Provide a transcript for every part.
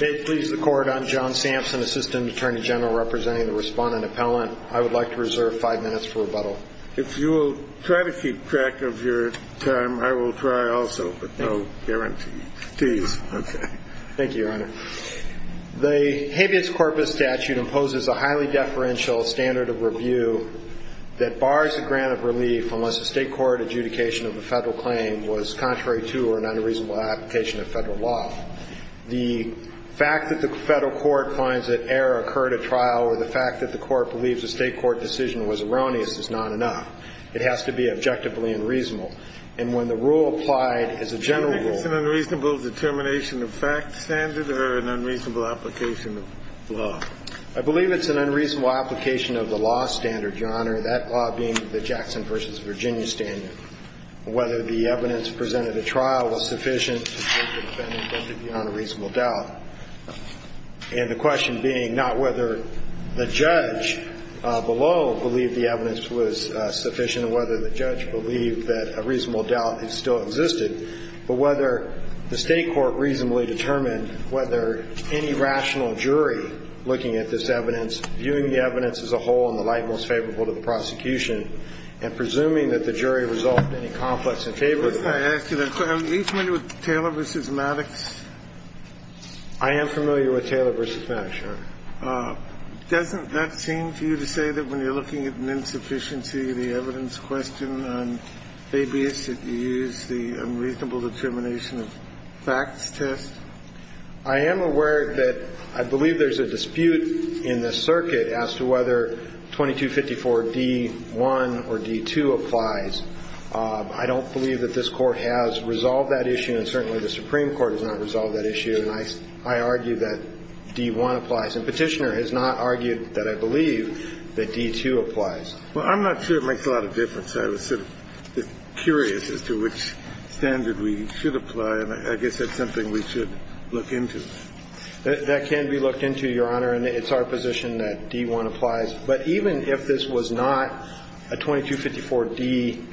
May it please the Court, I'm John Sampson, Assistant Attorney General representing the Respondent Appellant. I would like to reserve five minutes for rebuttal. If you will try to keep track of your time, I will try also, but no guarantee. Please. Thank you, Your Honor. The habeas corpus statute imposes a highly deferential standard of review that bars a grant of relief unless the state court adjudication of a federal claim was contrary to or an unreasonable application of federal law. The fact that the federal court finds that error occurred at trial or the fact that the court believes a state court decision was erroneous is not enough. It has to be objectively unreasonable. And when the rule applied as a general rule Do you think it's an unreasonable determination of fact standard or an unreasonable application of law? I believe it's an unreasonable application of the law standard, Your Honor, that law being the Jackson v. Virginia standard. And the question being not whether the judge below believed the evidence was sufficient or whether the judge believed that a reasonable doubt still existed, but whether the state court reasonably determined whether any rational jury looking at this evidence, viewing the evidence as a whole in the light most favorable to the prosecution, and presuming that the jury resolved any conflicts in favor of it. May I ask you a question? Are you familiar with Taylor v. Maddox? I am familiar with Taylor v. Maddox, Your Honor. Doesn't that seem to you to say that when you're looking at an insufficiency, the evidence question on habeas, that you use the unreasonable determination of facts test? I am aware that I believe there's a dispute in the circuit as to whether 2254 D.1 or D.2 applies. I don't believe that this Court has resolved that issue, and certainly the Supreme Court has not resolved that issue. And I argue that D.1 applies. And Petitioner has not argued that I believe that D.2 applies. Well, I'm not sure it makes a lot of difference. I was sort of curious as to which standard we should apply, and I guess that's something we should look into. That can be looked into, Your Honor, and it's our position that D.1 applies. But even if this was not a 2254 D.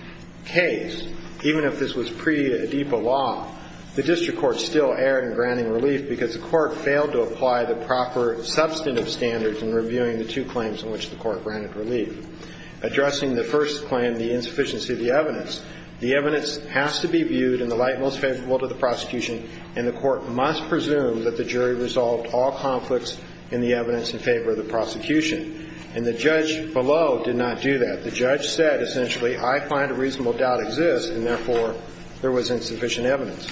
case, even if this was pre-ADIPA law, the district court still erred in granting relief because the court failed to apply the proper substantive standards in reviewing the two claims in which the court granted relief. Addressing the first claim, the insufficiency of the evidence, the evidence has to be viewed in the light most favorable to the prosecution, and the court must presume that the jury resolved all conflicts in the evidence in favor of the prosecution. And the judge below did not do that. The judge said essentially, I find a reasonable doubt exists, and therefore there was insufficient evidence.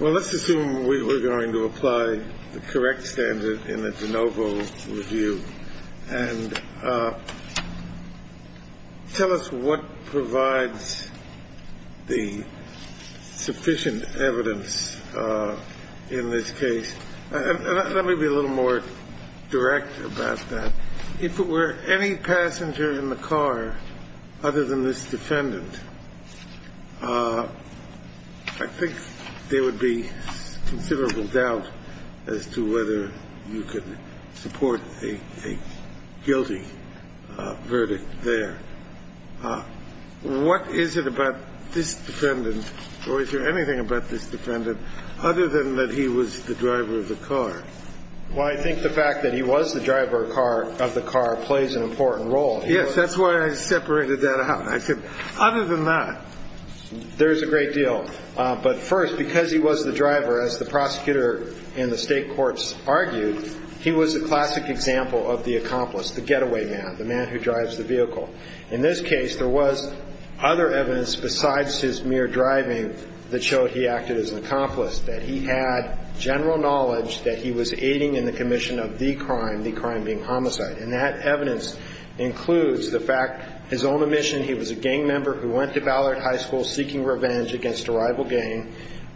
Well, let's assume we were going to apply the correct standard in the de novo review. And tell us what provides the sufficient evidence in this case. Let me be a little more direct about that. If it were any passenger in the car other than this defendant, I think there would be considerable doubt as to whether you could support a guilty verdict there. What is it about this defendant, or is there anything about this defendant, other than that he was the driver of the car? Well, I think the fact that he was the driver of the car plays an important role. Yes, that's why I separated that out. I said other than that. There is a great deal. But first, because he was the driver, as the prosecutor and the state courts argued, he was a classic example of the accomplice, the getaway man, the man who drives the vehicle. In this case, there was other evidence besides his mere driving that showed he acted as an accomplice, that he had general knowledge that he was aiding in the commission of the crime, the crime being homicide. And that evidence includes the fact his own admission he was a gang member who went to Ballard High School seeking revenge against a rival gang.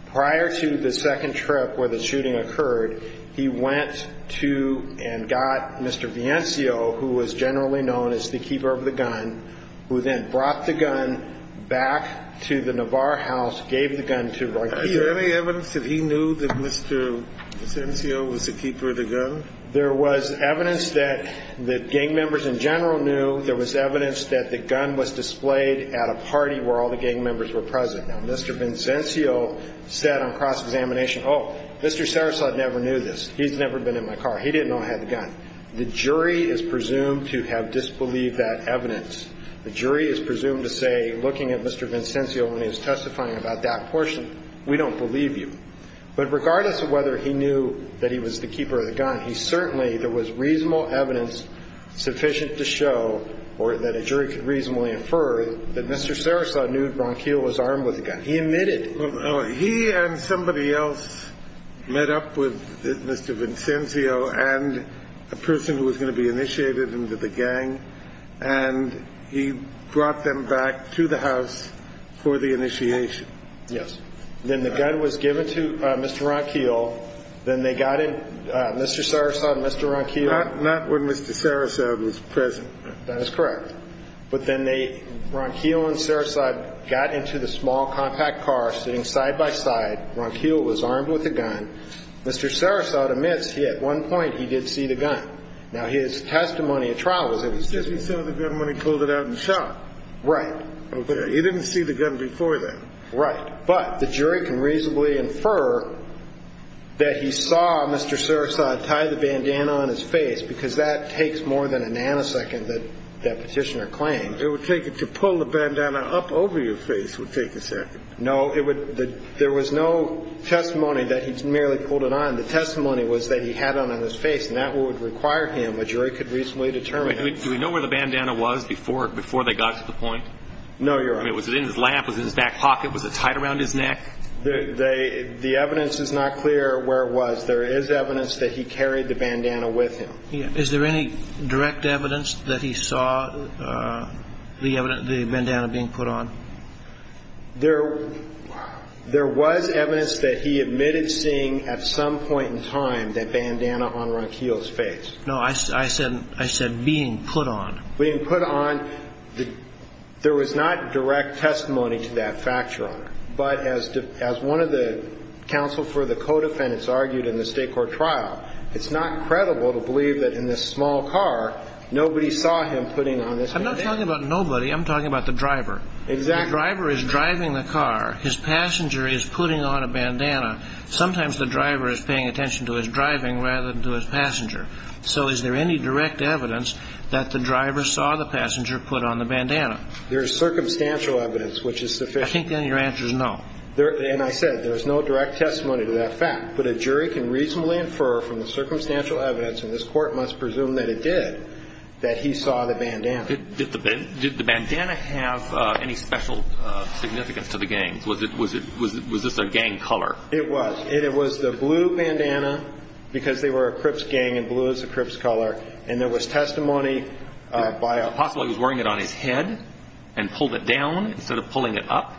Prior to the second trip where the shooting occurred, he went to and got Mr. Viencio, who was generally known as the keeper of the gun, who then brought the gun back to the Navarre house, gave the gun to Ruggiero. Is there any evidence that he knew that Mr. Viencio was the keeper of the gun? There was evidence that the gang members in general knew. There was evidence that the gun was displayed at a party where all the gang members were present. Now, Mr. Viencio said on cross-examination, oh, Mr. Sarasota never knew this. He's never been in my car. He didn't know I had the gun. The jury is presumed to have disbelieved that evidence. The jury is presumed to say, looking at Mr. Viencio when he was testifying about that portion, we don't believe you. But regardless of whether he knew that he was the keeper of the gun, he certainly, there was reasonable evidence sufficient to show that a jury could reasonably infer that Mr. Sarasota knew Ron Keel was armed with the gun. He admitted. He and somebody else met up with Mr. Viencio and a person who was going to be initiated into the gang, and he brought them back to the house for the initiation. Yes. Then the gun was given to Mr. Ron Keel. Then they got in, Mr. Sarasota and Mr. Ron Keel. Not when Mr. Sarasota was present. That is correct. But then they, Ron Keel and Sarasota, got into the small compact car, sitting side by side. Ron Keel was armed with the gun. Mr. Sarasota admits he, at one point, he did see the gun. Now, his testimony at trial was that he saw the gun when he pulled it out and shot. Right. Okay. He didn't see the gun before then. Right. But the jury can reasonably infer that he saw Mr. Sarasota tie the bandana on his face because that takes more than a nanosecond, that petitioner claimed. It would take it to pull the bandana up over your face would take a second. No. There was no testimony that he merely pulled it on. The testimony was that he had it on his face, and that would require him, a jury could reasonably determine. Do we know where the bandana was before they got to the point? No, Your Honor. Was it in his lap? Was it in his back pocket? Was it tied around his neck? The evidence is not clear where it was. There is evidence that he carried the bandana with him. Is there any direct evidence that he saw the bandana being put on? There was evidence that he admitted seeing at some point in time that bandana on Ron Keel's face. No, I said being put on. Being put on, there was not direct testimony to that fact, Your Honor. But as one of the counsel for the co-defendants argued in the state court trial, it's not credible to believe that in this small car nobody saw him putting on this bandana. I'm not talking about nobody. I'm talking about the driver. Exactly. The driver is driving the car. His passenger is putting on a bandana. Sometimes the driver is paying attention to his driving rather than to his passenger. So is there any direct evidence that the driver saw the passenger put on the bandana? There is circumstantial evidence which is sufficient. I think then your answer is no. And I said there is no direct testimony to that fact. But a jury can reasonably infer from the circumstantial evidence, and this court must presume that it did, that he saw the bandana. Did the bandana have any special significance to the gangs? Was this a gang color? It was. It was the blue bandana because they were a Crips gang and blue is a Crips color. And there was testimony by a ---- Possibly he was wearing it on his head and pulled it down instead of pulling it up.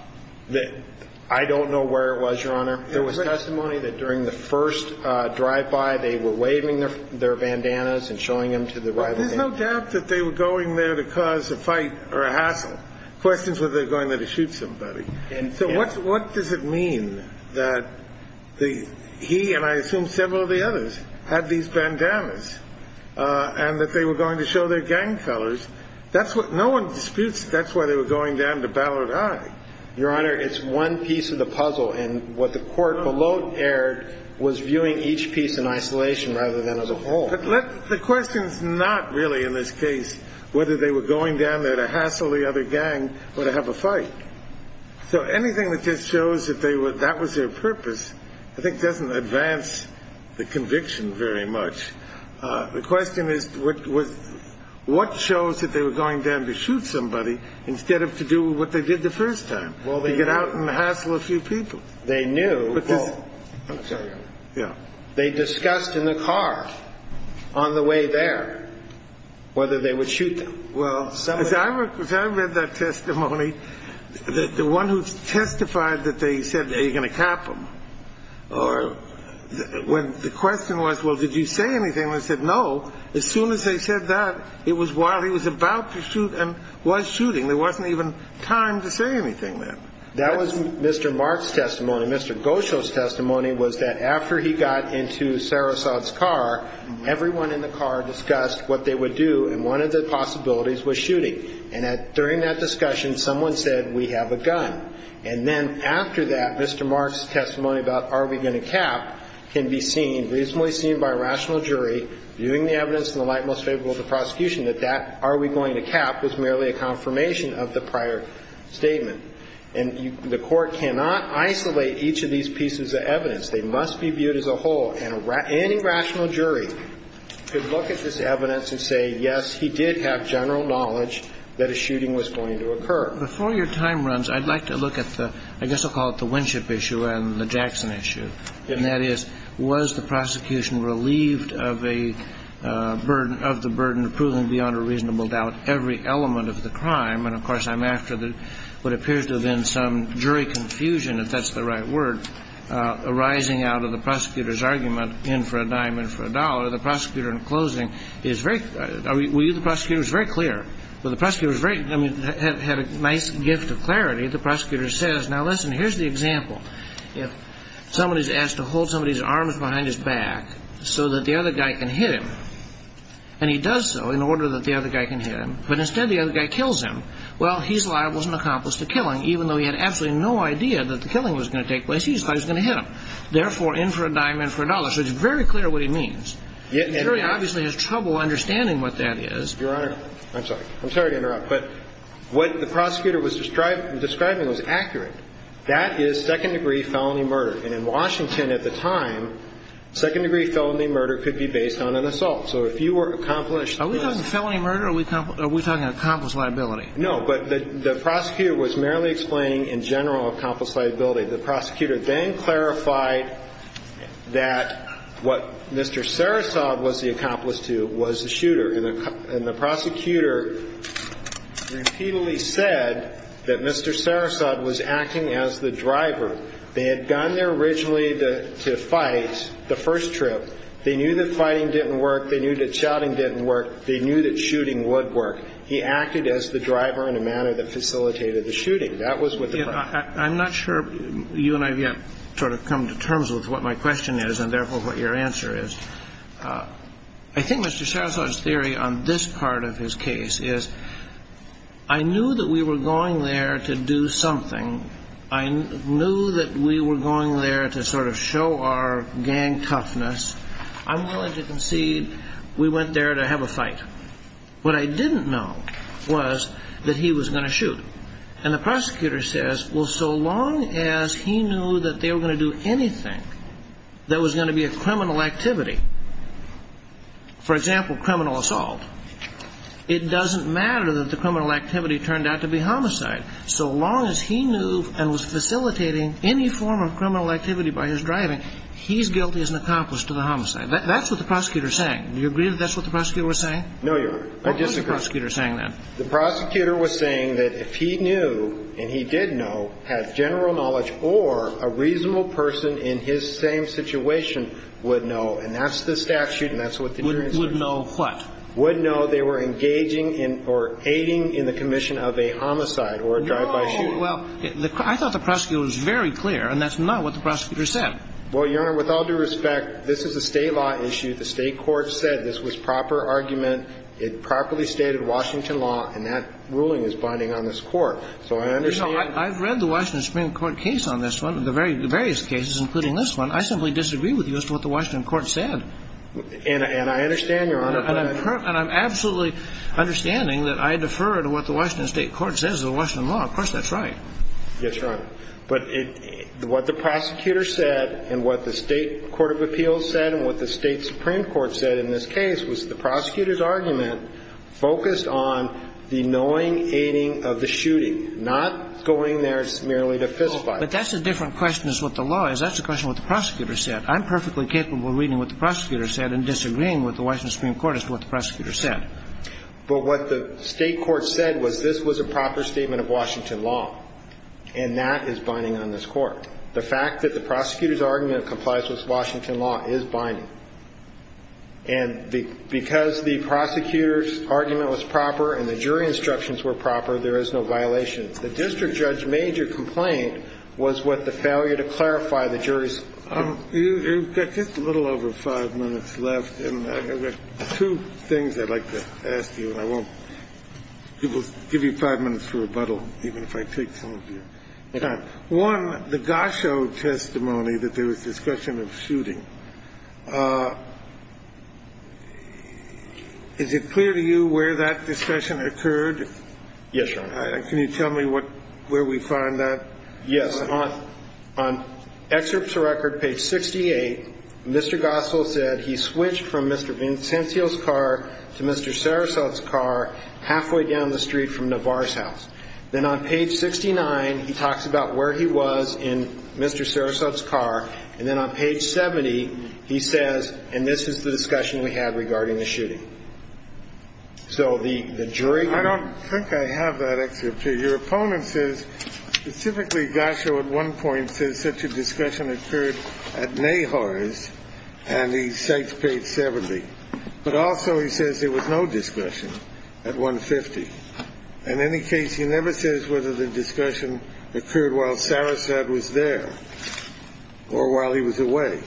I don't know where it was, Your Honor. There was testimony that during the first drive-by they were waving their bandanas and showing them to the rival gang. There's no doubt that they were going there to cause a fight or a hassle. The question is whether they were going there to shoot somebody. So what does it mean that he and I assume several of the others had these bandanas and that they were going to show their gang colors? No one disputes that's why they were going down to Ballard I. Your Honor, it's one piece of the puzzle. And what the court below aired was viewing each piece in isolation rather than as a whole. But the question is not really in this case whether they were going down there to hassle the other gang or to have a fight. So anything that just shows that that was their purpose I think doesn't advance the conviction very much. The question is what shows that they were going down to shoot somebody instead of to do what they did the first time, to get out and hassle a few people. They knew. They discussed in the car on the way there whether they would shoot them. Well, as I read that testimony, the one who testified that they said, Are you going to cap him? The question was, Well, did you say anything? They said, No. As soon as they said that, it was while he was about to shoot and was shooting. There wasn't even time to say anything then. That was Mr. Mark's testimony. Mr. Gosho's testimony was that after he got into Sarasot's car, everyone in the car discussed what they would do, and one of the possibilities was shooting. And during that discussion, someone said, We have a gun. And then after that, Mr. Mark's testimony about are we going to cap can be seen, reasonably seen by a rational jury, viewing the evidence in the light most favorable to prosecution, that that are we going to cap was merely a confirmation of the prior statement. And the Court cannot isolate each of these pieces of evidence. They must be viewed as a whole. And any rational jury could look at this evidence and say, Yes, he did have general knowledge that a shooting was going to occur. Before your time runs, I'd like to look at the, I guess I'll call it the Winship issue and the Jackson issue. And that is, was the prosecution relieved of a burden, of the burden of proving beyond a reasonable doubt every element of the crime? And, of course, I'm after what appears to have been some jury confusion, if that's the right word, arising out of the prosecutor's argument in for a diamond for a dollar. The prosecutor in closing is very, the prosecutor is very clear. The prosecutor is very, I mean, had a nice gift of clarity. The prosecutor says, Now, listen, here's the example. If somebody is asked to hold somebody's arms behind his back so that the other guy can hit him, and he does so in order that the other guy can hit him, but instead the other guy kills him, well, he's liable as an accomplice to killing. Even though he had absolutely no idea that the killing was going to take place, he just thought he was going to hit him. Therefore, in for a diamond for a dollar. So it's very clear what he means. The jury obviously has trouble understanding what that is. Your Honor, I'm sorry. I'm sorry to interrupt. But what the prosecutor was describing was accurate. That is second-degree felony murder. And in Washington at the time, second-degree felony murder could be based on an assault. So if you were accomplished... Are we talking felony murder or are we talking accomplice liability? No, but the prosecutor was merely explaining in general accomplice liability. The prosecutor then clarified that what Mr. Sarasov was the accomplice to was the shooter. And the prosecutor repeatedly said that Mr. Sarasov was acting as the driver. They had gone there originally to fight the first trip. They knew that fighting didn't work. They knew that shouting didn't work. They knew that shooting would work. He acted as the driver in a manner that facilitated the shooting. That was what the prosecutor said. I'm not sure you and I have yet sort of come to terms with what my question is and therefore what your answer is. I think Mr. Sarasov's theory on this part of his case is I knew that we were going there to do something. I knew that we were going there to sort of show our gang toughness. What I didn't know was that he was going to shoot. And the prosecutor says, well, so long as he knew that they were going to do anything that was going to be a criminal activity, for example, criminal assault, it doesn't matter that the criminal activity turned out to be homicide. So long as he knew and was facilitating any form of criminal activity by his driving, he's guilty as an accomplice to the homicide. That's what the prosecutor is saying. Do you agree that that's what the prosecutor was saying? No, Your Honor. What was the prosecutor saying then? The prosecutor was saying that if he knew and he did know, had general knowledge, or a reasonable person in his same situation would know, and that's the statute and that's what the jury said. Would know what? Would know they were engaging in or aiding in the commission of a homicide or a drive-by shooting. No. Well, I thought the prosecutor was very clear, and that's not what the prosecutor said. Well, Your Honor, with all due respect, this is a state law issue. The state court said this was proper argument. It properly stated Washington law, and that ruling is binding on this court. So I understand. You know, I've read the Washington Supreme Court case on this one, the various cases, including this one. I simply disagree with you as to what the Washington court said. And I understand, Your Honor. And I'm absolutely understanding that I defer to what the Washington state court says, the Washington law. Of course that's right. Yes, Your Honor. But what the prosecutor said and what the state court of appeals said and what the state Supreme Court said in this case was the prosecutor's argument focused on the knowing aiding of the shooting, not going there merely to fiscify it. But that's a different question as what the law is. That's a question what the prosecutor said. I'm perfectly capable of reading what the prosecutor said and disagreeing with the Washington Supreme Court as to what the prosecutor said. But what the state court said was this was a proper statement of Washington law, and that is binding on this court. The fact that the prosecutor's argument complies with Washington law is binding. And because the prosecutor's argument was proper and the jury instructions were proper, there is no violation. The district judge's major complaint was with the failure to clarify the jury's complaint. You've got just a little over five minutes left. And I've got two things I'd like to ask you. And I won't give you five minutes for rebuttal, even if I take some of your time. One, the Gosho testimony that there was discussion of shooting. Is it clear to you where that discussion occurred? Yes, Your Honor. Can you tell me where we found that? Yes. On excerpts of record, page 68, Mr. Gosho said he switched from Mr. Vincenzio's car to Mr. Sarasota's car halfway down the street from Navar's house. Then on page 69, he talks about where he was in Mr. Sarasota's car. And then on page 70, he says, and this is the discussion we had regarding the shooting. So the jury can't. I don't think I have that excerpt here. Your opponent says, specifically Gosho at one point says such a discussion occurred at Nahar's, and he cites page 70. But also he says there was no discussion at 150. In any case, he never says whether the discussion occurred while Sarasota was there or while he was away.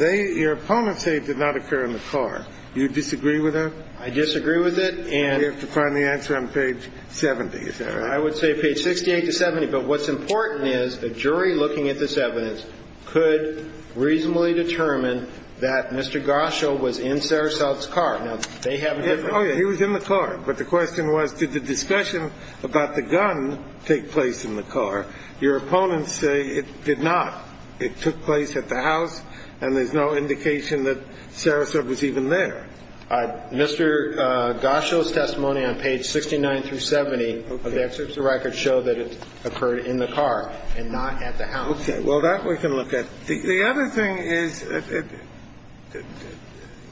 Your opponent said it did not occur in the car. Do you disagree with that? I disagree with it. And you have to find the answer on page 70. Is that right? I would say page 68 to 70. But what's important is the jury looking at this evidence could reasonably determine that Mr. Gosho was in Sarasota's car. Now, they have a different. Oh, yeah. He was in the car. But the question was, did the discussion about the gun take place in the car? Your opponents say it did not. It took place at the house, and there's no indication that Sarasota was even there. Mr. Gosho's testimony on page 69 through 70 of the excerpts of records show that it occurred in the car and not at the house. Okay. Well, that we can look at. The other thing is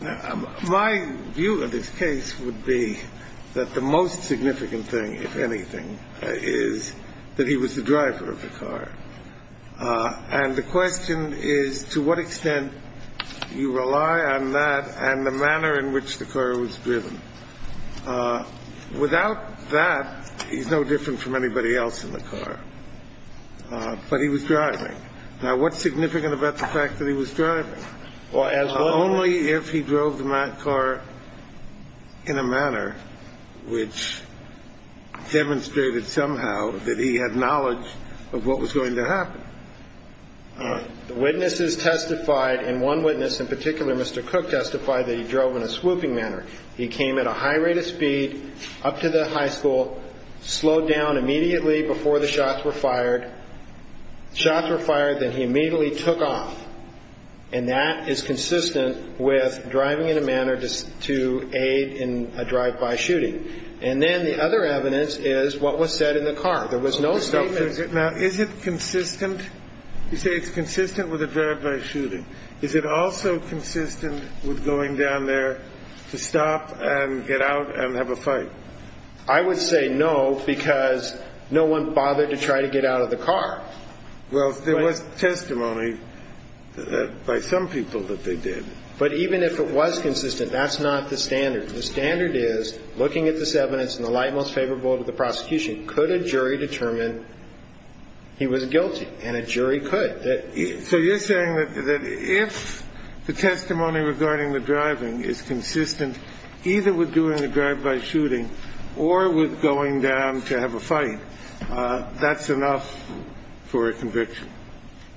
my view of this case would be that the most significant thing, if anything, is that he was the driver of the car. And the question is to what extent you rely on that and the manner in which the car was driven. Without that, he's no different from anybody else in the car. But he was driving. Now, what's significant about the fact that he was driving? Only if he drove the car in a manner which demonstrated somehow that he had knowledge of what was going to happen. Witnesses testified, and one witness in particular, Mr. Cook, testified that he drove in a swooping manner. He came at a high rate of speed up to the high school, slowed down immediately before the shots were fired. Shots were fired, then he immediately took off. And that is consistent with driving in a manner to aid in a drive-by shooting. And then the other evidence is what was said in the car. There was no statement. Now, is it consistent? You say it's consistent with a drive-by shooting. Is it also consistent with going down there to stop and get out and have a fight? I would say no, because no one bothered to try to get out of the car. Well, there was testimony by some people that they did. But even if it was consistent, that's not the standard. The standard is, looking at this evidence in the light most favorable to the prosecution, could a jury determine he was guilty? And a jury could. So you're saying that if the testimony regarding the driving is consistent either with doing a drive-by shooting or with going down to have a fight, that's enough for a conviction?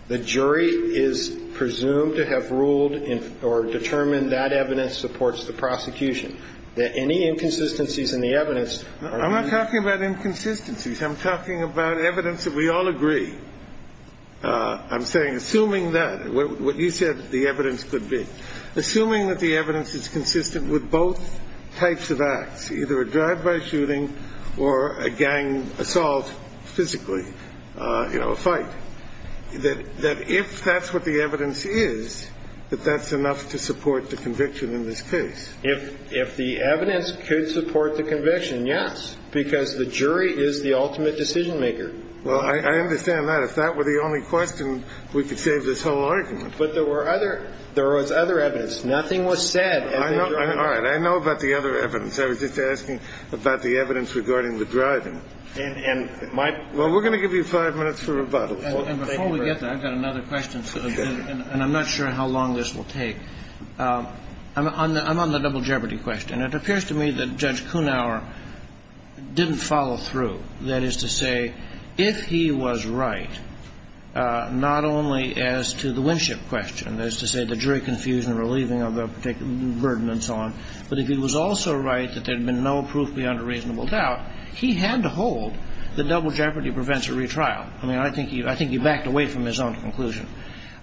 The jury is presumed to have ruled or determined that evidence supports the prosecution, that any inconsistencies in the evidence are to be ruled. I'm not talking about inconsistencies. I'm talking about evidence that we all agree. I'm saying, assuming that, what you said the evidence could be, assuming that the evidence is consistent with both types of acts, either a drive-by shooting or a gang assault physically, you know, a fight, that if that's what the evidence is, that that's enough to support the conviction in this case. If the evidence could support the conviction, yes, because the jury is the ultimate decision-maker. So, you're saying that if the evidence is consistent with both types of acts, that's enough to support the conviction in this case? Well, I understand that. If that were the only question, we could save this whole argument. But there were other – there was other evidence. Nothing was said as the jury. All right. I know about the other evidence. I was just asking about the evidence regarding the driving. And my – Well, we're going to give you five minutes for rebuttal. And before we get that, I've got another question. Okay. And I'm not sure how long this will take. I'm on the double jeopardy question. It appears to me that Judge Kunauer didn't follow through. That is to say, if he was right, not only as to the Winship question, that is to say, the jury confusion relieving of a particular burden and so on, but if he was also right that there had been no proof beyond a reasonable doubt, he had to hold that double jeopardy prevents a retrial. I mean, I think he backed away from his own conclusion.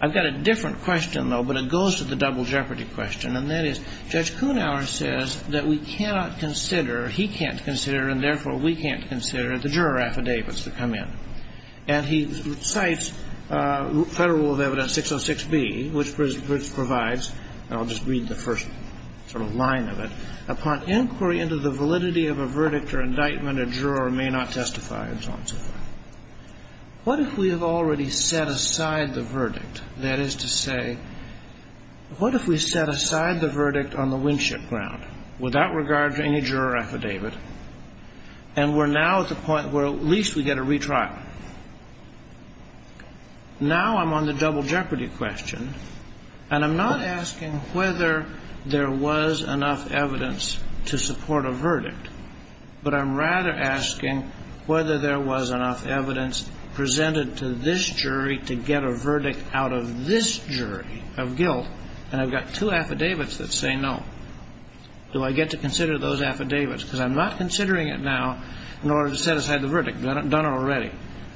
I've got a different question, though, but it goes to the double jeopardy question, and that is Judge Kunauer says that we cannot consider, he can't consider, and therefore we can't consider the juror affidavits that come in. And he cites Federal Rule of Evidence 606B, which provides – and I'll just read the first sort of line of it. Upon inquiry into the validity of a verdict or indictment, a juror may not testify and so on and so forth. What if we have already set aside the verdict? That is to say, what if we set aside the verdict on the Winship ground, without regard to any juror affidavit, and we're now at the point where at least we get a retrial? Now I'm on the double jeopardy question, and I'm not asking whether there was enough evidence to support a verdict, but I'm rather asking whether there was enough evidence presented to this jury to get a verdict out of this jury of guilt, and I've got two affidavits that say no. Do I get to consider those affidavits? Because I'm not considering it now in order to set aside the verdict. I've done it already.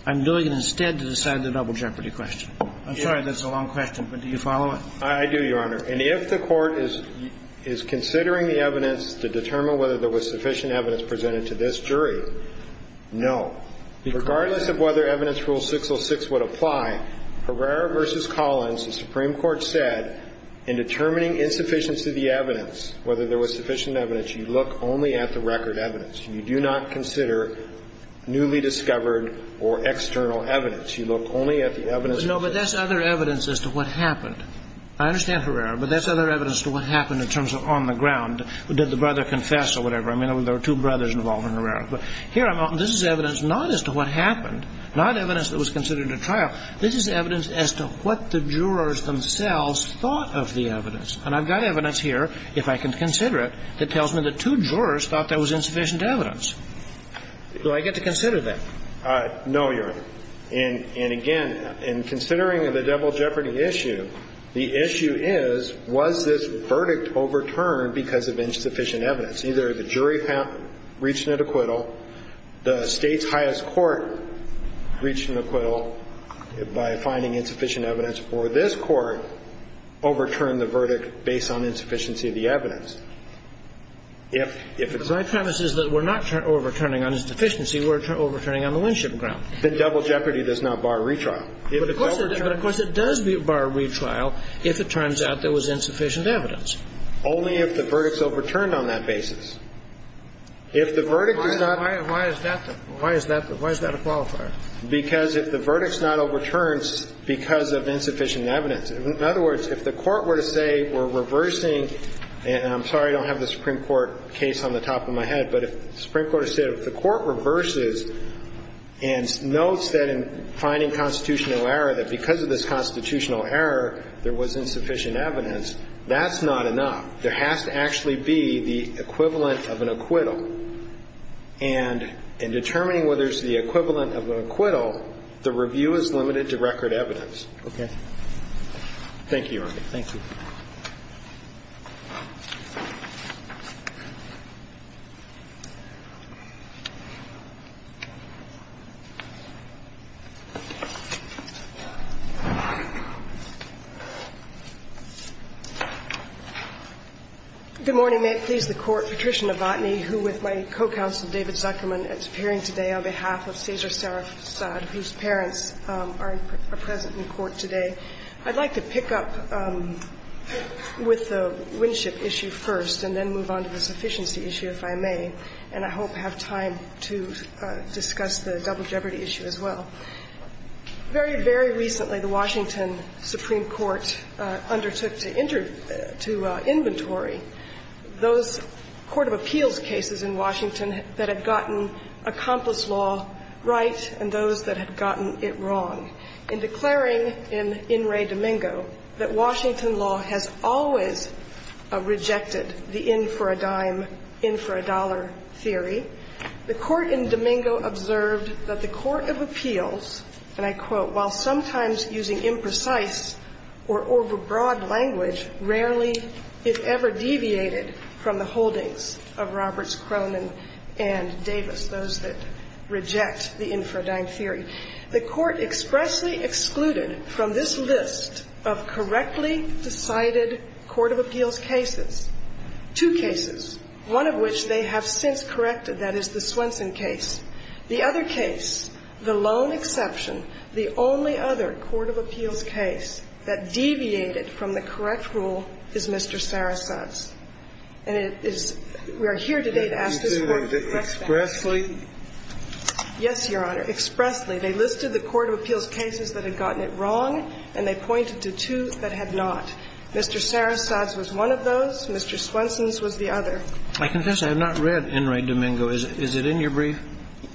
I'm doing it instead to decide the double jeopardy question. I'm sorry that's a long question, but do you follow it? I do, Your Honor. And if the Court is considering the evidence to determine whether there was sufficient evidence presented to this jury, no. Regardless of whether evidence rule 606 would apply, Herrera v. Collins, the Supreme Court said in determining insufficiency of the evidence, whether there was sufficient evidence, you look only at the record evidence. You do not consider newly discovered or external evidence. You look only at the evidence. No, but that's other evidence as to what happened. I understand Herrera, but that's other evidence to what happened in terms of on the ground. Did the brother confess or whatever? I mean, there were two brothers involved in Herrera. But here I'm going, this is evidence not as to what happened, not evidence that was considered at trial. This is evidence as to what the jurors themselves thought of the evidence. And I've got evidence here, if I can consider it, that tells me the two jurors thought there was insufficient evidence. Do I get to consider that? No, Your Honor. And, again, in considering the double jeopardy issue, the issue is, was this verdict overturned because of insufficient evidence? Either the jury reached an acquittal, the State's highest court reached an acquittal by finding insufficient evidence, or this Court overturned the verdict based on insufficiency of the evidence. If it's not. My premise is that we're not overturning on insufficiency. We're overturning on the winship ground. The double jeopardy does not bar retrial. But, of course, it does bar retrial if it turns out there was insufficient evidence. Only if the verdict's overturned on that basis. If the verdict is not. Why is that a qualifier? Because if the verdict's not overturned because of insufficient evidence. In other words, if the Court were to say we're reversing, and I'm sorry I don't have the Supreme Court case on the top of my head, but if the Supreme Court were to say if the Court reverses and notes that in finding constitutional error, that because of this constitutional error, there was insufficient evidence, that's not enough. There has to actually be the equivalent of an acquittal. And in determining whether it's the equivalent of an acquittal, the review is limited to record evidence. Okay? Thank you, Your Honor. Thank you. Good morning. May it please the Court. Patricia Novotny, who with my co-counsel, David Zuckerman, is appearing today on behalf of Cesar Sarifzad, whose parents are present in court today. I'd like to pick up with the Winship issue first and then move on to the sufficiency issue, if I may. And I hope I have time to discuss the double jeopardy issue as well. Very, very recently, the Washington Supreme Court undertook to inventory those court of appeals cases in Washington that had gotten accomplice law right and those that had gotten it wrong. In declaring in In Re Domingo that Washington law has always rejected the in-for-a-dime, in-for-a-dollar theory, the Court in Domingo observed that the court of appeals, and I quote, The Court expressly excluded from this list of correctly decided court of appeals cases two cases, one of which they have since corrected, that is, the Swenson case. The other case, the lone exception, the only exception, is the Swenson case. And I quote, The only other court of appeals case that deviated from the correct rule is Mr. Sarasate's. And it is we are here today to ask this Court to correct that. You said expressly? Yes, Your Honor. Expressly. They listed the court of appeals cases that had gotten it wrong and they pointed to two that had not. Mr. Sarasate's was one of those. Mr. Swenson's was the other. I confess I have not read In Re Domingo. Is it in your brief?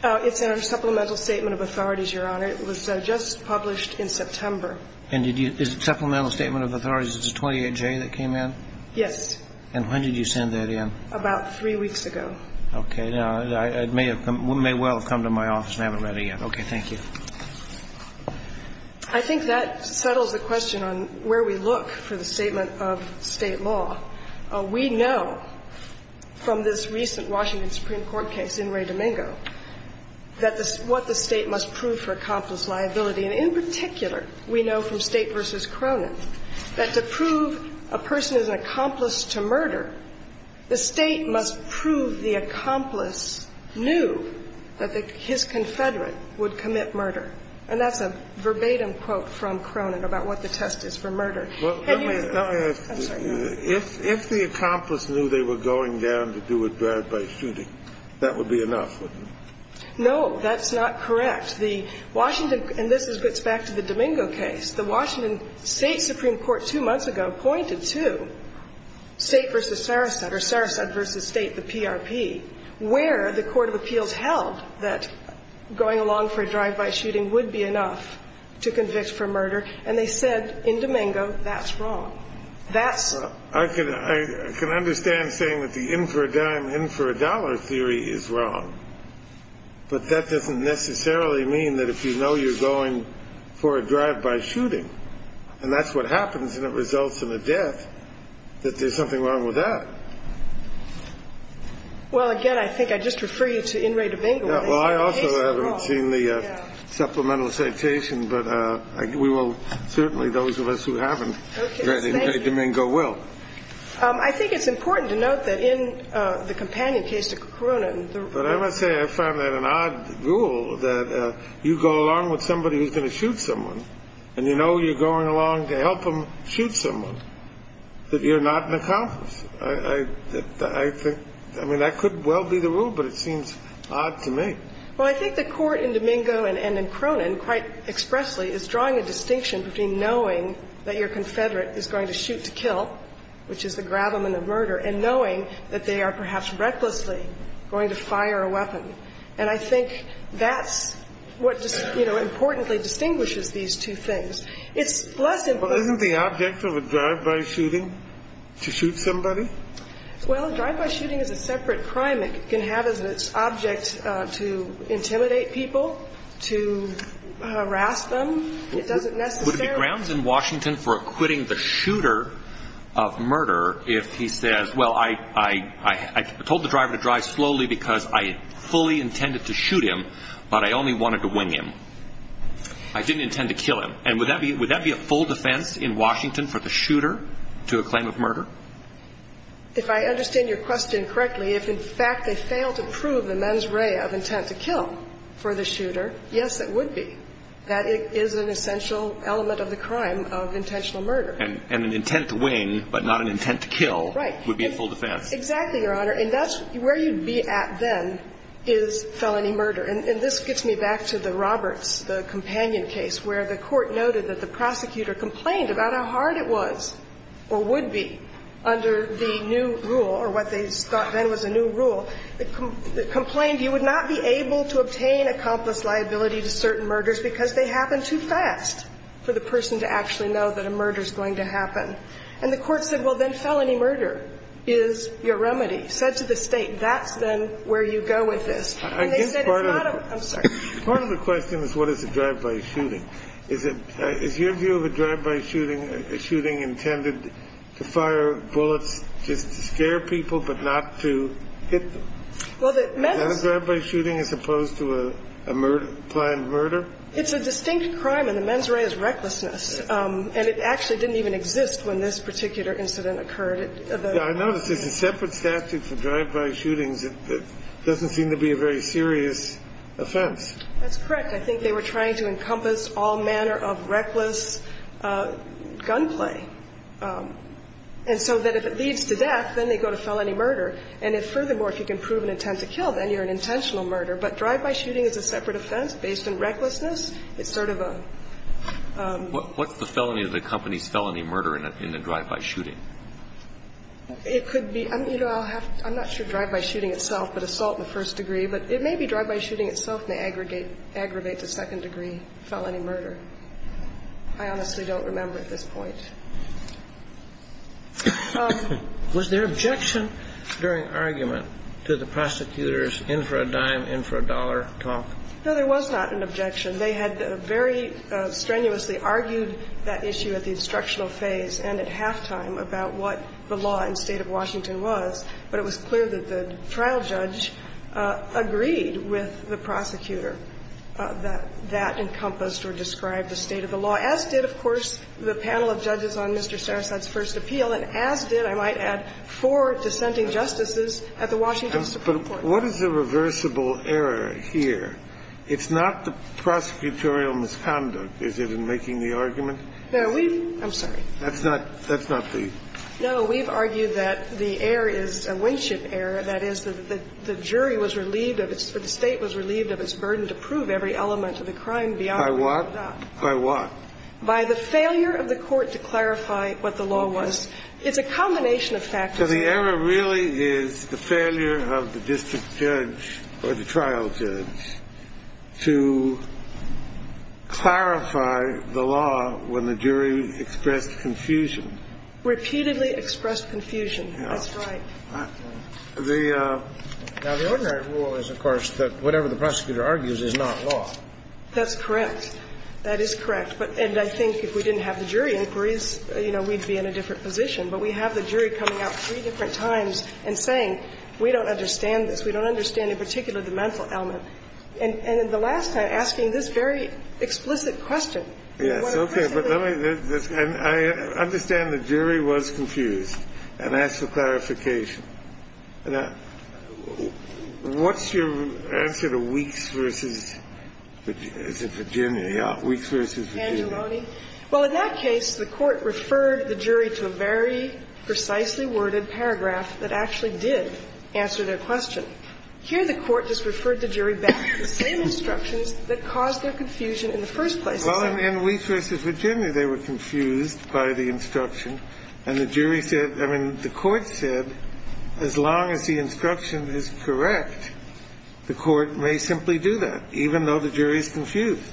It's in our supplemental statement of authorities, Your Honor. It was just published in September. And did you – is it supplemental statement of authorities? Is it 28J that came in? Yes. And when did you send that in? About three weeks ago. Okay. Now, it may well have come to my office and I haven't read it yet. Okay. Thank you. I think that settles the question on where we look for the statement of State law. We know from this recent Washington Supreme Court case, In Re Domingo, that what the State must prove for accomplice liability, and in particular, we know from State v. Cronin, that to prove a person is an accomplice to murder, the State must prove the accomplice knew that his confederate would commit murder. And that's a verbatim quote from Cronin about what the test is for murder. Had you – I'm sorry. If the accomplice knew they were going down to do it bad by shooting, that would be enough, wouldn't it? No. That's not correct. The Washington – and this gets back to the Domingo case. The Washington State Supreme Court two months ago pointed to State v. Saraset or Saraset v. State, the PRP, where the court of appeals held that going along for a drive-by shooting would be enough to convict for murder, and they said in Domingo that's wrong. That's – I can understand saying that the in for a dime, in for a dollar theory is wrong, but that doesn't necessarily mean that if you know you're going for a drive-by shooting, and that's what happens and it results in a death, that there's something wrong with that. Well, again, I think I'd just refer you to In re Domingo. Well, I also haven't seen the supplemental citation, but we will – certainly those of us who haven't read In re Domingo will. I think it's important to note that in the companion case to Cronin – But I must say I found that an odd rule that you go along with somebody who's going to shoot someone, and you know you're going along to help them shoot someone, that you're not an accomplice. I think – I mean, that could well be the rule, but it seems odd to me. Well, I think the court in Domingo and in Cronin quite expressly is drawing a distinction between knowing that your confederate is going to shoot to kill, which is the And knowing that they are perhaps recklessly going to fire a weapon. And I think that's what, you know, importantly distinguishes these two things. It's less than – Well, isn't the object of a drive-by shooting to shoot somebody? Well, a drive-by shooting is a separate crime. It can have as its object to intimidate people, to harass them. It doesn't necessarily – Would it be grounds in Washington for acquitting the shooter of murder if he says, well, I told the driver to drive slowly because I fully intended to shoot him, but I only wanted to wing him. I didn't intend to kill him. And would that be a full defense in Washington for the shooter to a claim of murder? If I understand your question correctly, if in fact they fail to prove the mens rea of intent to kill for the shooter, yes, it would be. That is an essential element of the crime of intentional murder. And an intent to wing but not an intent to kill would be a full defense. Exactly, Your Honor. And that's where you'd be at then is felony murder. And this gets me back to the Roberts, the companion case, where the court noted that the prosecutor complained about how hard it was or would be under the new rule or what they thought then was a new rule. They complained you would not be able to obtain accomplice liability to certain murders because they happen too fast for the person to actually know that a murder is going to happen. And the court said, well, then felony murder is your remedy. Said to the State, that's then where you go with this. And they said it's not a – I'm sorry. Part of the question is what is a drive-by shooting. Is it – is your view of a drive-by shooting a shooting intended to fire bullets just to scare people but not to hit them? Well, the – Is that a drive-by shooting as opposed to a planned murder? It's a distinct crime, and the mens rea is recklessness. And it actually didn't even exist when this particular incident occurred. I noticed it's a separate statute for drive-by shootings. It doesn't seem to be a very serious offense. That's correct. I think they were trying to encompass all manner of reckless gunplay. And so that if it leads to death, then they go to felony murder. And if, furthermore, if you can prove an intent to kill, then you're an intentional murder. But drive-by shooting is a separate offense based on recklessness. It's sort of a – What's the felony of the company's felony murder in a drive-by shooting? It could be – you know, I'll have – I'm not sure drive-by shooting itself, but assault in the first degree. But it may be drive-by shooting itself may aggregate to second degree felony murder. I honestly don't remember at this point. Was there objection during argument to the prosecutor's in-for-a-dime, in-for-a-dollar talk? No, there was not an objection. They had very strenuously argued that issue at the instructional phase and at halftime about what the law in the State of Washington was. But it was clear that the trial judge agreed with the prosecutor that that encompassed or described the state of the law. Now, as did, of course, the panel of judges on Mr. Sarasate's first appeal, and as did, I might add, four dissenting justices at the Washington Supreme Court. But what is the reversible error here? It's not the prosecutorial misconduct, is it, in making the argument? No, we've – I'm sorry. That's not – that's not the – No, we've argued that the error is a Winship error, that is, that the jury was relieved of its – or the State was relieved of its burden to prove every element of the crime by what? By what? By the failure of the court to clarify what the law was. It's a combination of factors. So the error really is the failure of the district judge or the trial judge to clarify the law when the jury expressed confusion. Repeatedly expressed confusion. That's right. The – Now, the ordinary rule is, of course, that whatever the prosecutor argues is not law. That's correct. That is correct. But – and I think if we didn't have the jury inquiries, you know, we'd be in a different position. But we have the jury coming out three different times and saying, we don't understand this. We don't understand in particular the mental element. And in the last time, asking this very explicit question. Yes. But let me – and I understand the jury was confused and asked for clarification. What's your answer to Weeks v. Virginia? Weeks v. Virginia. Angeloni. Well, in that case, the Court referred the jury to a very precisely worded paragraph that actually did answer their question. Here the Court just referred the jury back to the same instructions that caused their confusion in the first place. Well, in Weeks v. Virginia, they were confused by the instruction. And the jury said – I mean, the Court said, as long as the instruction is correct, the Court may simply do that, even though the jury is confused.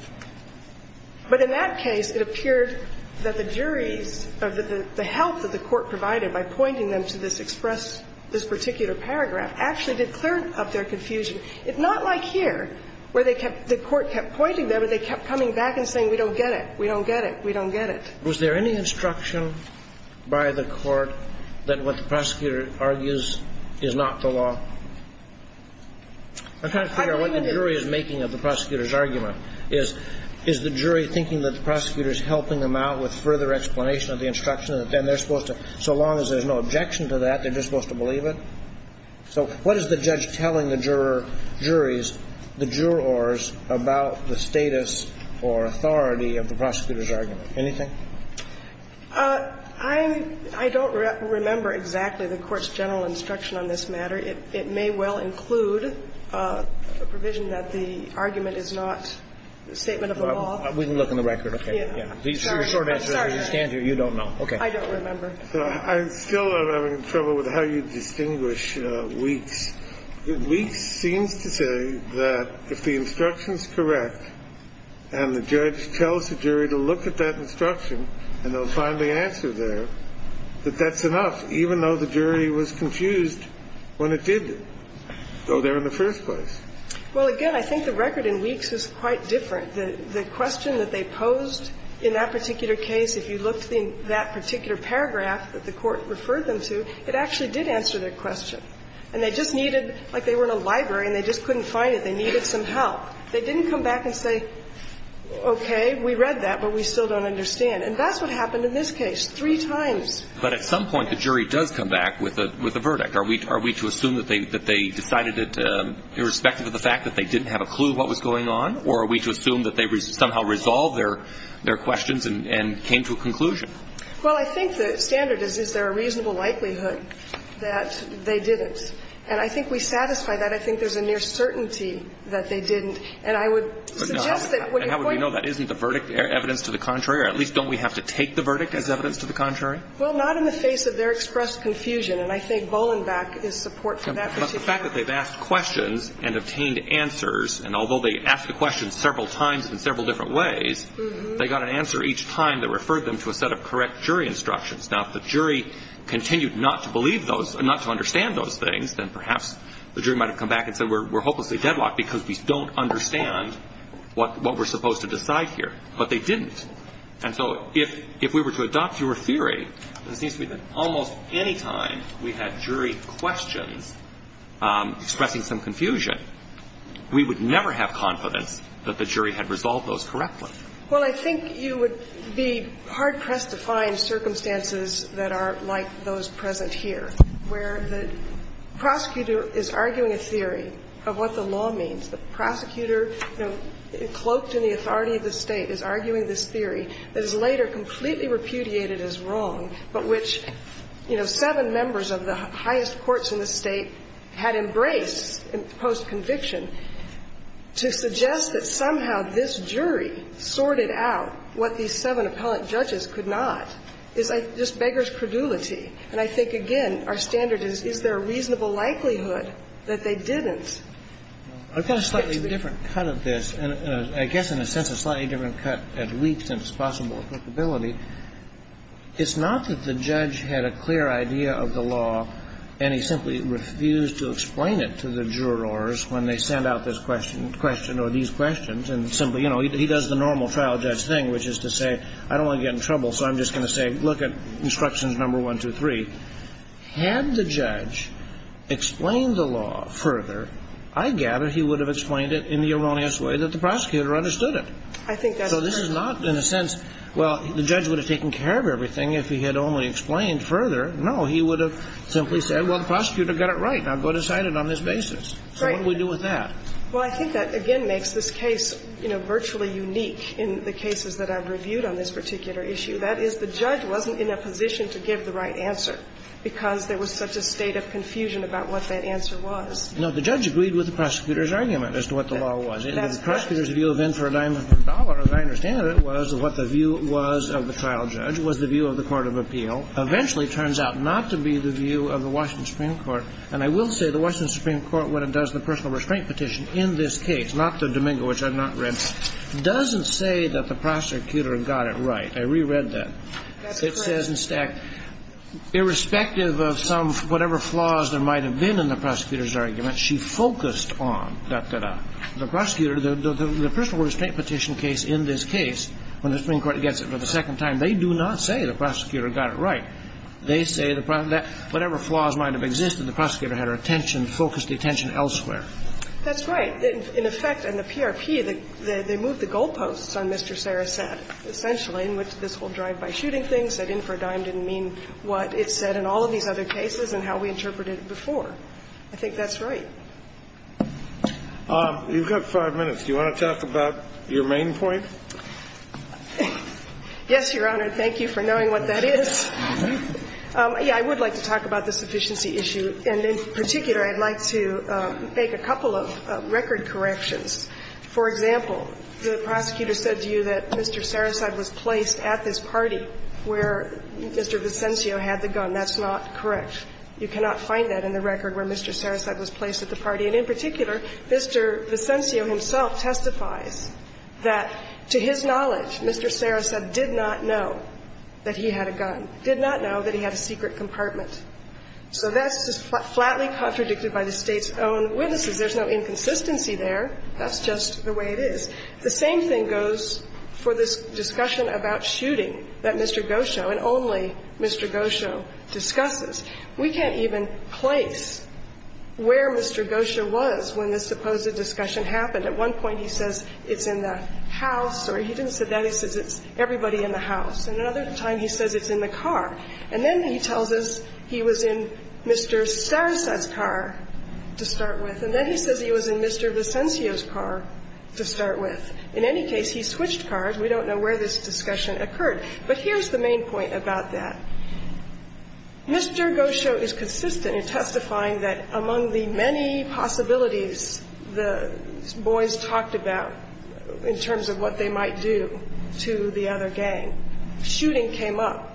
But in that case, it appeared that the jury's – the help that the Court provided by pointing them to this express – this particular paragraph actually did clear up their confusion. It's not like here, where they kept – the Court kept pointing there, but they kept coming back and saying, we don't get it. We don't get it. We don't get it. Was there any instruction by the Court that what the prosecutor argues is not the law? I'm trying to figure out what the jury is making of the prosecutor's argument. Is – is the jury thinking that the prosecutor is helping them out with further explanation of the instruction, that then they're supposed to – so long as there's no objection to that, they're just supposed to believe it? So what is the judge telling the jurors about the status or authority of the prosecutor's argument? Anything? I'm – I don't remember exactly the Court's general instruction on this matter. It may well include a provision that the argument is not a statement of the law. We can look in the record. Okay. I'm sorry. You don't know. Okay. I don't remember. I still am having trouble with how you distinguish Weeks. Weeks seems to say that if the instruction is correct and the judge tells the jury to look at that instruction and they'll find the answer there, that that's enough, even though the jury was confused when it did go there in the first place. Well, again, I think the record in Weeks is quite different. The question that they posed in that particular case, if you looked in that particular paragraph that the Court referred them to, it actually did answer their question. And they just needed – like they were in a library and they just couldn't find it, they needed some help. They didn't come back and say, okay, we read that, but we still don't understand. And that's what happened in this case, three times. But at some point the jury does come back with a verdict. Are we to assume that they decided it irrespective of the fact that they didn't have a clue what was going on, or are we to assume that they somehow resolved their questions and came to a conclusion? Well, I think the standard is, is there a reasonable likelihood that they didn't. And I think we satisfy that. But I think there's a near certainty that they didn't. And I would suggest that what you're pointing to – But how would we know that? Isn't the verdict evidence to the contrary? Or at least don't we have to take the verdict as evidence to the contrary? Well, not in the face of their expressed confusion. And I think Bolenback is support for that particular – But the fact that they've asked questions and obtained answers, and although they asked the questions several times in several different ways, they got an answer each time that referred them to a set of correct jury instructions. Now, if the jury continued not to believe those – not to understand those things, then perhaps the jury might have come back and said we're hopelessly deadlocked because we don't understand what we're supposed to decide here. But they didn't. And so if we were to adopt your theory, it seems to me that almost any time we had jury questions expressing some confusion, we would never have confidence that the jury had resolved those correctly. Well, I think you would be hard-pressed to find circumstances that are like those present here, where the prosecutor is arguing a theory of what the law means. The prosecutor, you know, cloaked in the authority of the State, is arguing this theory that is later completely repudiated as wrong, but which, you know, seven members of the highest courts in the State had embraced post-conviction to suggest that somehow this jury sorted out what these seven appellate judges could not is just beggar's credulity. And I think, again, our standard is, is there a reasonable likelihood that they didn't? I've got a slightly different cut of this, and I guess in a sense a slightly different cut at least in its possible applicability. It's not that the judge had a clear idea of the law and he simply refused to explain it to the jurors when they sent out this question or these questions and simply, you know, he does the normal trial judge thing, which is to say I don't want to get in trouble, so I'm just going to say look at instructions number 1, 2, 3. Had the judge explained the law further, I gather he would have explained it in the erroneous way that the prosecutor understood it. So this is not in a sense, well, the judge would have taken care of everything if he had only explained further. No, he would have simply said, well, the prosecutor got it right. Now go decide it on this basis. So what do we do with that? Well, I think that, again, makes this case, you know, virtually unique in the cases that I've reviewed on this particular issue. That is, the judge wasn't in a position to give the right answer because there was such a state of confusion about what that answer was. No, the judge agreed with the prosecutor's argument as to what the law was. The prosecutor's view of in for a dime of the dollar, as I understand it, was what the view was of the trial judge, was the view of the court of appeal. Eventually, it turns out not to be the view of the Washington Supreme Court. And I will say the Washington Supreme Court, when it does the personal restraint petition in this case, not the Domingo, which I've not read, doesn't say that the prosecutor got it right. I reread that. That's correct. It says in stack, irrespective of some, whatever flaws there might have been in the prosecutor's argument, she focused on, da, da, da. The prosecutor, the personal restraint petition case in this case, when the Supreme Court gets it for the second time, they do not say the prosecutor got it right. They say that whatever flaws might have existed, the prosecutor had her attention, and she focused the attention elsewhere. That's right. In effect, in the PRP, they moved the goalposts on Mr. Sarasate, essentially, in which this whole drive-by shooting thing said in for a dime didn't mean what it said in all of these other cases and how we interpreted it before. I think that's right. You've got five minutes. Do you want to talk about your main point? Yes, Your Honor. Thank you for knowing what that is. Yeah, I would like to talk about the sufficiency issue. And in particular, I'd like to make a couple of record corrections. For example, the prosecutor said to you that Mr. Sarasate was placed at this party where Mr. Vicencio had the gun. That's not correct. You cannot find that in the record where Mr. Sarasate was placed at the party. And in particular, Mr. Vicencio himself testifies that, to his knowledge, Mr. Sarasate did not know that he had a gun, did not know that he had a secret compartment. So that's just flatly contradicted by the State's own witnesses. There's no inconsistency there. That's just the way it is. The same thing goes for this discussion about shooting that Mr. Gosho, and only Mr. Gosho, discusses. We can't even place where Mr. Gosho was when this supposed discussion happened. At one point he says it's in the house, or he didn't say that. He says it's everybody in the house. And another time he says it's in the car. And then he tells us he was in Mr. Sarasate's car to start with, and then he says he was in Mr. Vicencio's car to start with. In any case, he switched cars. We don't know where this discussion occurred. But here's the main point about that. Mr. Gosho is consistent in testifying that among the many possibilities the boys talked about in terms of what they might do to the other gang, shooting came up.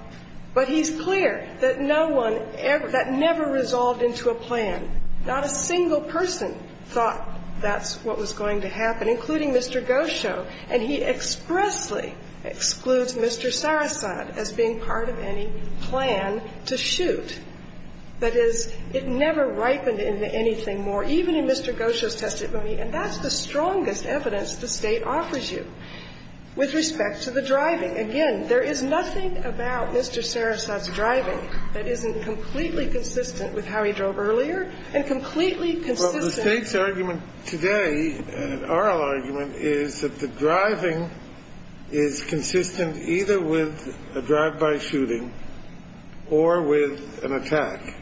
But he's clear that no one ever, that never resolved into a plan. Not a single person thought that's what was going to happen, including Mr. Gosho. And he expressly excludes Mr. Sarasate as being part of any plan to shoot. That is, it never ripened into anything more. And even in Mr. Gosho's testimony, and that's the strongest evidence the State offers you with respect to the driving. Again, there is nothing about Mr. Sarasate's driving that isn't completely consistent with how he drove earlier and completely consistent. The State's argument today, oral argument, is that the driving is consistent either with a drive-by shooting or with an attack.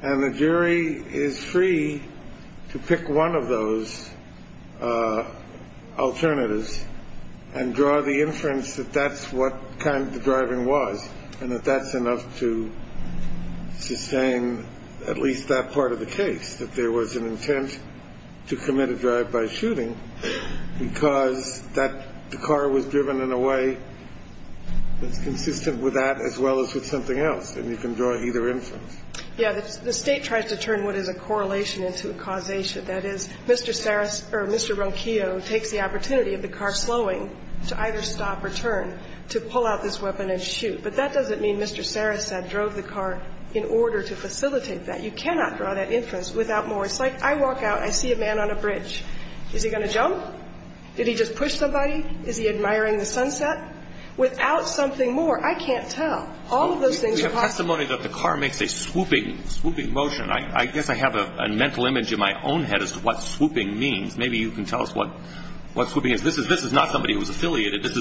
And the jury is free to pick one of those alternatives and draw the inference that that's what kind of driving was and that that's enough to sustain at least that part of the case, that there was an intent to commit a drive-by shooting because that car was driven in a way that's consistent with that as well as with something else. And you can draw either inference. Yeah. The State tries to turn what is a correlation into a causation. That is, Mr. Sarasate or Mr. Ronquillo takes the opportunity of the car slowing to either stop or turn to pull out this weapon and shoot. But that doesn't mean Mr. Sarasate drove the car in order to facilitate that. You cannot draw that inference without more. It's like I walk out, I see a man on a bridge. Is he going to jump? Did he just push somebody? Is he admiring the sunset? Without something more, I can't tell. All of those things are possible. We have testimony that the car makes a swooping, swooping motion. I guess I have a mental image in my own head as to what swooping means. Maybe you can tell us what swooping is. This is not somebody who was affiliated. This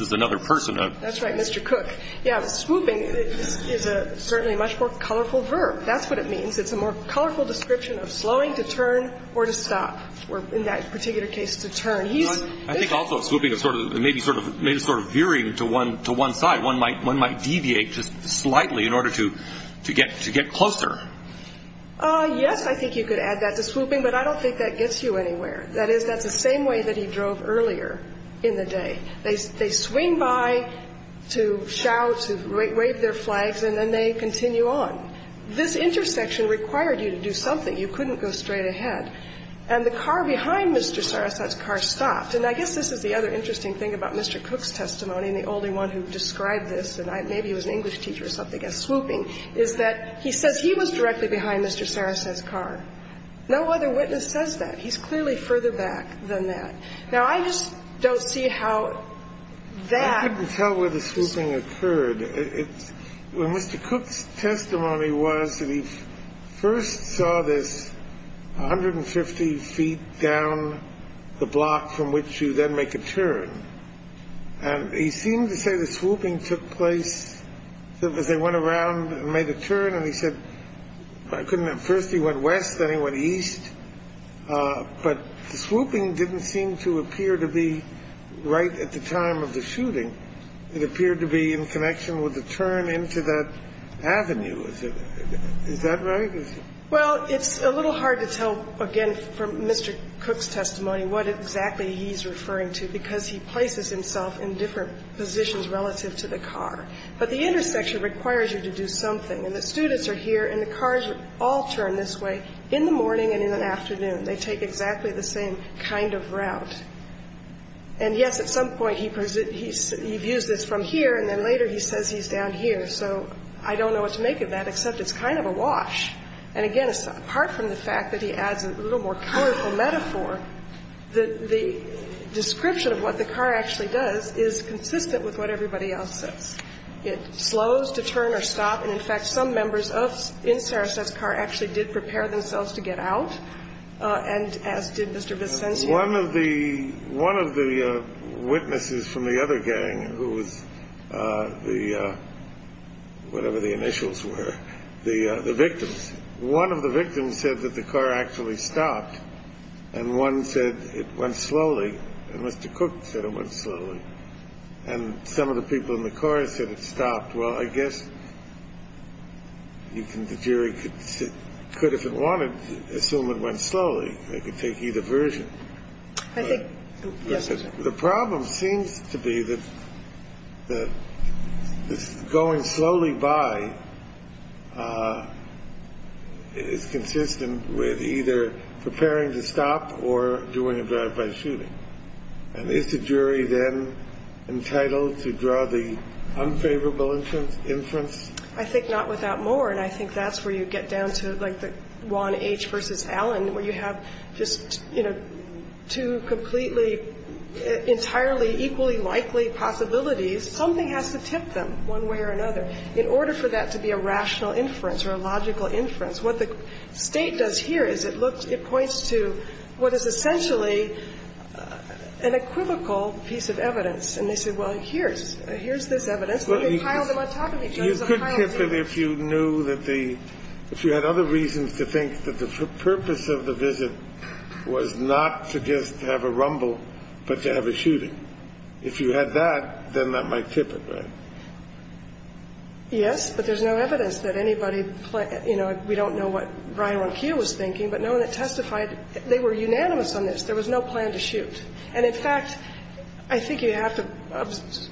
is another person. That's right, Mr. Cook. Yeah. Swooping is certainly a much more colorful verb. That's what it means. It's a more colorful description of slowing to turn or to stop or, in that particular case, to turn. I think also swooping may be sort of veering to one side. One might deviate just slightly in order to get closer. Yes, I think you could add that to swooping, but I don't think that gets you anywhere. That is, that's the same way that he drove earlier in the day. They swing by to shout, to wave their flags, and then they continue on. This intersection required you to do something. You couldn't go straight ahead. And the car behind Mr. Sarasate's car stopped. And I guess this is the other interesting thing about Mr. Cook's testimony, and the only one who described this, and maybe he was an English teacher or something, as swooping, is that he says he was directly behind Mr. Sarasate's car. No other witness says that. He's clearly further back than that. Now, I just don't see how that ---- I couldn't tell where the swooping occurred. Mr. Cook's testimony was that he first saw this 150 feet down the block from which you then make a turn. And he seemed to say the swooping took place as they went around and made a turn. And he said, I couldn't have. First he went west. Then he went east. But the swooping didn't seem to appear to be right at the time of the shooting. It appeared to be in connection with the turn into that avenue. Is that right? Well, it's a little hard to tell, again, from Mr. Cook's testimony what exactly he's referring to, because he places himself in different positions relative to the car. But the intersection requires you to do something. And the students are here, and the cars all turn this way in the morning and in the afternoon. They take exactly the same kind of route. And, yes, at some point he views this from here, and then later he says he's down here. So I don't know what to make of that, except it's kind of a wash. And, again, apart from the fact that he adds a little more colorful metaphor, the description of what the car actually does is consistent with what everybody else says. It slows to turn or stop. And, in fact, some members in Sarasota's car actually did prepare themselves to get out, and as did Mr. Vicencio. One of the witnesses from the other gang who was the, whatever the initials were, the victims, one of the victims said that the car actually stopped. And one said it went slowly. And Mr. Cook said it went slowly. And some of the people in the car said it stopped. Well, I guess the jury could, if it wanted, assume it went slowly. They could take either version. I think, yes. The problem seems to be that going slowly by is consistent with either preparing to stop or doing a gratified shooting. And is the jury then entitled to draw the unfavorable inference? I think not without more. And I think that's where you get down to, like, the Juan H. v. Allen, where you have just, you know, two completely entirely equally likely possibilities. Something has to tip them one way or another. In order for that to be a rational inference or a logical inference, what the State does here is it points to what is essentially an equivocal piece of evidence. And they say, well, here's this evidence. Well, you could tip it if you knew that the – if you had other reasons to think that the purpose of the visit was not to just have a rumble, but to have a shooting. If you had that, then that might tip it, right? Yes, but there's no evidence that anybody, you know, we don't know what Ryan Ronquillo was thinking, but no one had testified. They were unanimous on this. There was no plan to shoot. And, in fact, I think you have to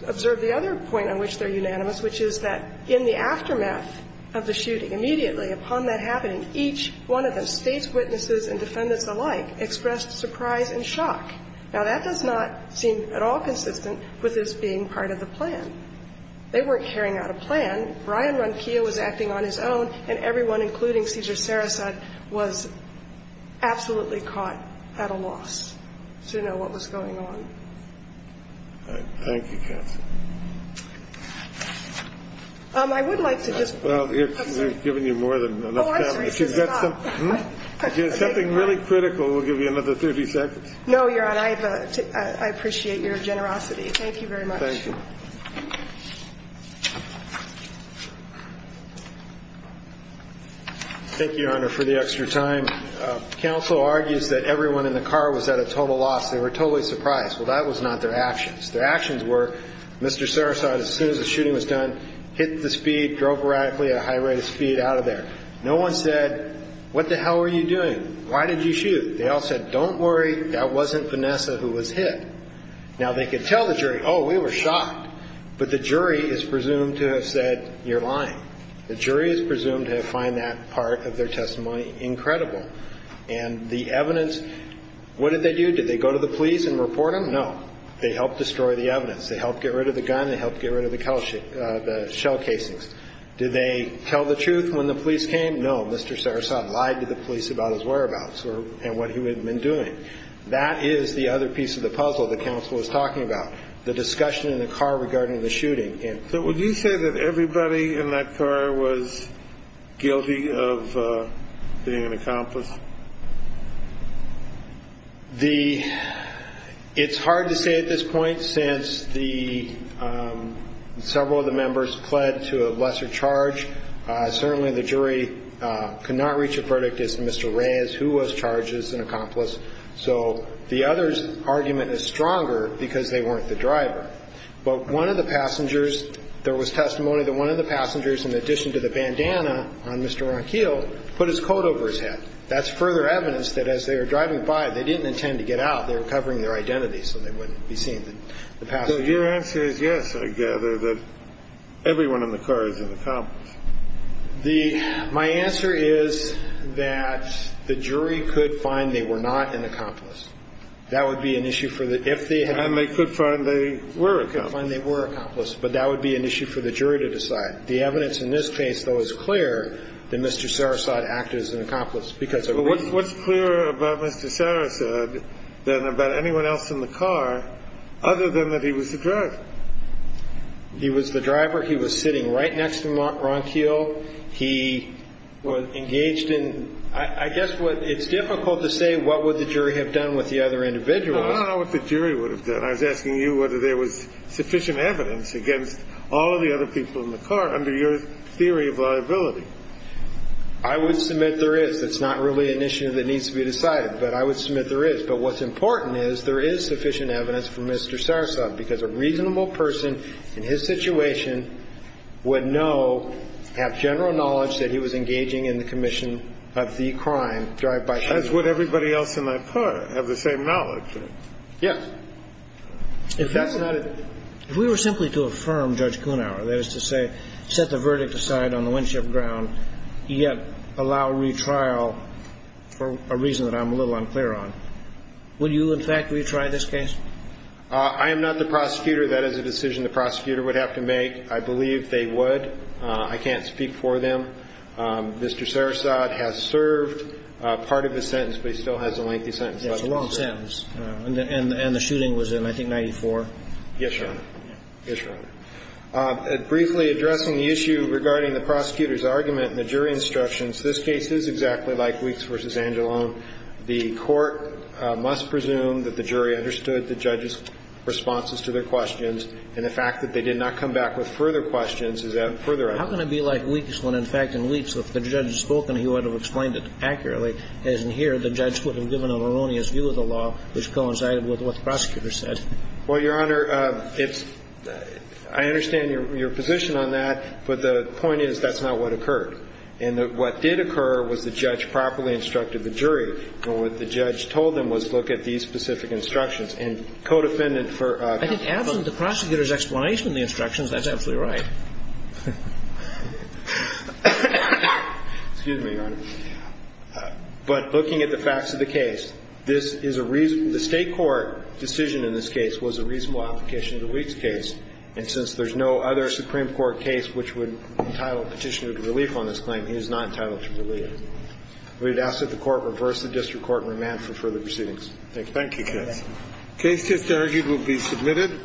observe the other point on which they're unanimous, which is that in the aftermath of the shooting, immediately upon that happening, each one of the State's witnesses and defendants alike expressed surprise and shock. Now, that does not seem at all consistent with this being part of the plan. They weren't carrying out a plan. Ryan Ronquillo was acting on his own, and everyone, including Cesar Sarasot, was absolutely caught at a loss. I think it's important for us to know what was going on. Thank you, Counsel. I would like to just – Well, we've given you more than enough time. Oh, I'm sorry. Since you got something – Thank you. If you had something really critical, we'll give you another 30 seconds. No, Your Honor, I appreciate your generosity. Thank you very much. Thank you. Thank you, Your Honor, for the extra time. Counsel argues that everyone in the car was at a total loss. They were totally surprised. Well, that was not their actions. Their actions were, Mr. Sarasota, as soon as the shooting was done, hit the speed, drove radically at a high rate of speed out of there. No one said, what the hell were you doing? Why did you shoot? They all said, don't worry, that wasn't Vanessa who was hit. Now, they could tell the jury, oh, we were shocked. But the jury is presumed to have said, you're lying. The jury is presumed to have found that part of their testimony incredible. And the evidence, what did they do? Did they go to the police and report them? No. They helped destroy the evidence. They helped get rid of the gun. They helped get rid of the shell casings. Did they tell the truth when the police came? No. Mr. Sarasota lied to the police about his whereabouts and what he had been doing. That is the other piece of the puzzle the counsel was talking about, the discussion in the car regarding the shooting. So would you say that everybody in that car was guilty of being an accomplice? It's hard to say at this point since several of the members pled to a lesser charge. Certainly, the jury could not reach a verdict as to Mr. Reyes, who was charged as an accomplice. So the other's argument is stronger because they weren't the driver. But one of the passengers, there was testimony that one of the passengers, in addition to the bandana on Mr. Ronquillo, put his coat over his head. That's further evidence that as they were driving by, they didn't intend to get out. They were covering their identities so they wouldn't be seen. So your answer is yes, I gather, that everyone in the car is an accomplice. My answer is that the jury could find they were not an accomplice. That would be an issue for the, if they had. And they could find they were an accomplice. Find they were an accomplice. But that would be an issue for the jury to decide. The evidence in this case, though, is clear that Mr. Sarasot acted as an accomplice because of reason. But what's clearer about Mr. Sarasot than about anyone else in the car other than that he was the driver? He was the driver. He was sitting right next to Ronquillo. He was engaged in, I guess it's difficult to say what would the jury have done with the other individuals. I don't know what the jury would have done. I was asking you whether there was sufficient evidence against all of the other people in the car under your theory of liability. I would submit there is. It's not really an issue that needs to be decided. But I would submit there is. But what's important is there is sufficient evidence for Mr. Sarasot because a reasonable person in his situation would know, have general knowledge that he was engaging in the commission of the crime. As would everybody else on my part have the same knowledge. Yes. If we were simply to affirm Judge Kuhnhauer, that is to say, set the verdict aside on the Winship ground, yet allow retrial for a reason that I'm a little unclear on, would you in fact retry this case? I am not the prosecutor. That is a decision the prosecutor would have to make. I believe they would. I can't speak for them. Mr. Sarasot has served part of his sentence, but he still has a lengthy sentence left to serve. That's a long sentence. And the shooting was in, I think, 1994. Yes, Your Honor. Yes, Your Honor. Briefly addressing the issue regarding the prosecutor's argument and the jury instructions, this case is exactly like Weeks v. Angelone. The court must presume that the jury understood the judge's responses to their questions and the fact that they did not come back with further questions is a further argument. How can it be like Weeks when, in fact, in Weeks, if the judge had spoken, he would have explained it accurately, as in here, the judge would have given an erroneous view of the law which coincided with what the prosecutor said? Well, Your Honor, it's – I understand your position on that, but the point is that's not what occurred. And what did occur was the judge properly instructed the jury. And what the judge told them was look at these specific instructions. And co-defendant for – I think absent the prosecutor's explanation of the instructions, that's absolutely right. Excuse me, Your Honor. But looking at the facts of the case, this is a reason – the State court decision in this case was a reasonable application of the Weeks case. And since there's no other Supreme Court case which would entitle Petitioner to relief on this claim, he is not entitled to relief. We would ask that the Court reverse the district court and remand for further proceedings. Thank you. Thank you, Judge. The case just argued will be submitted.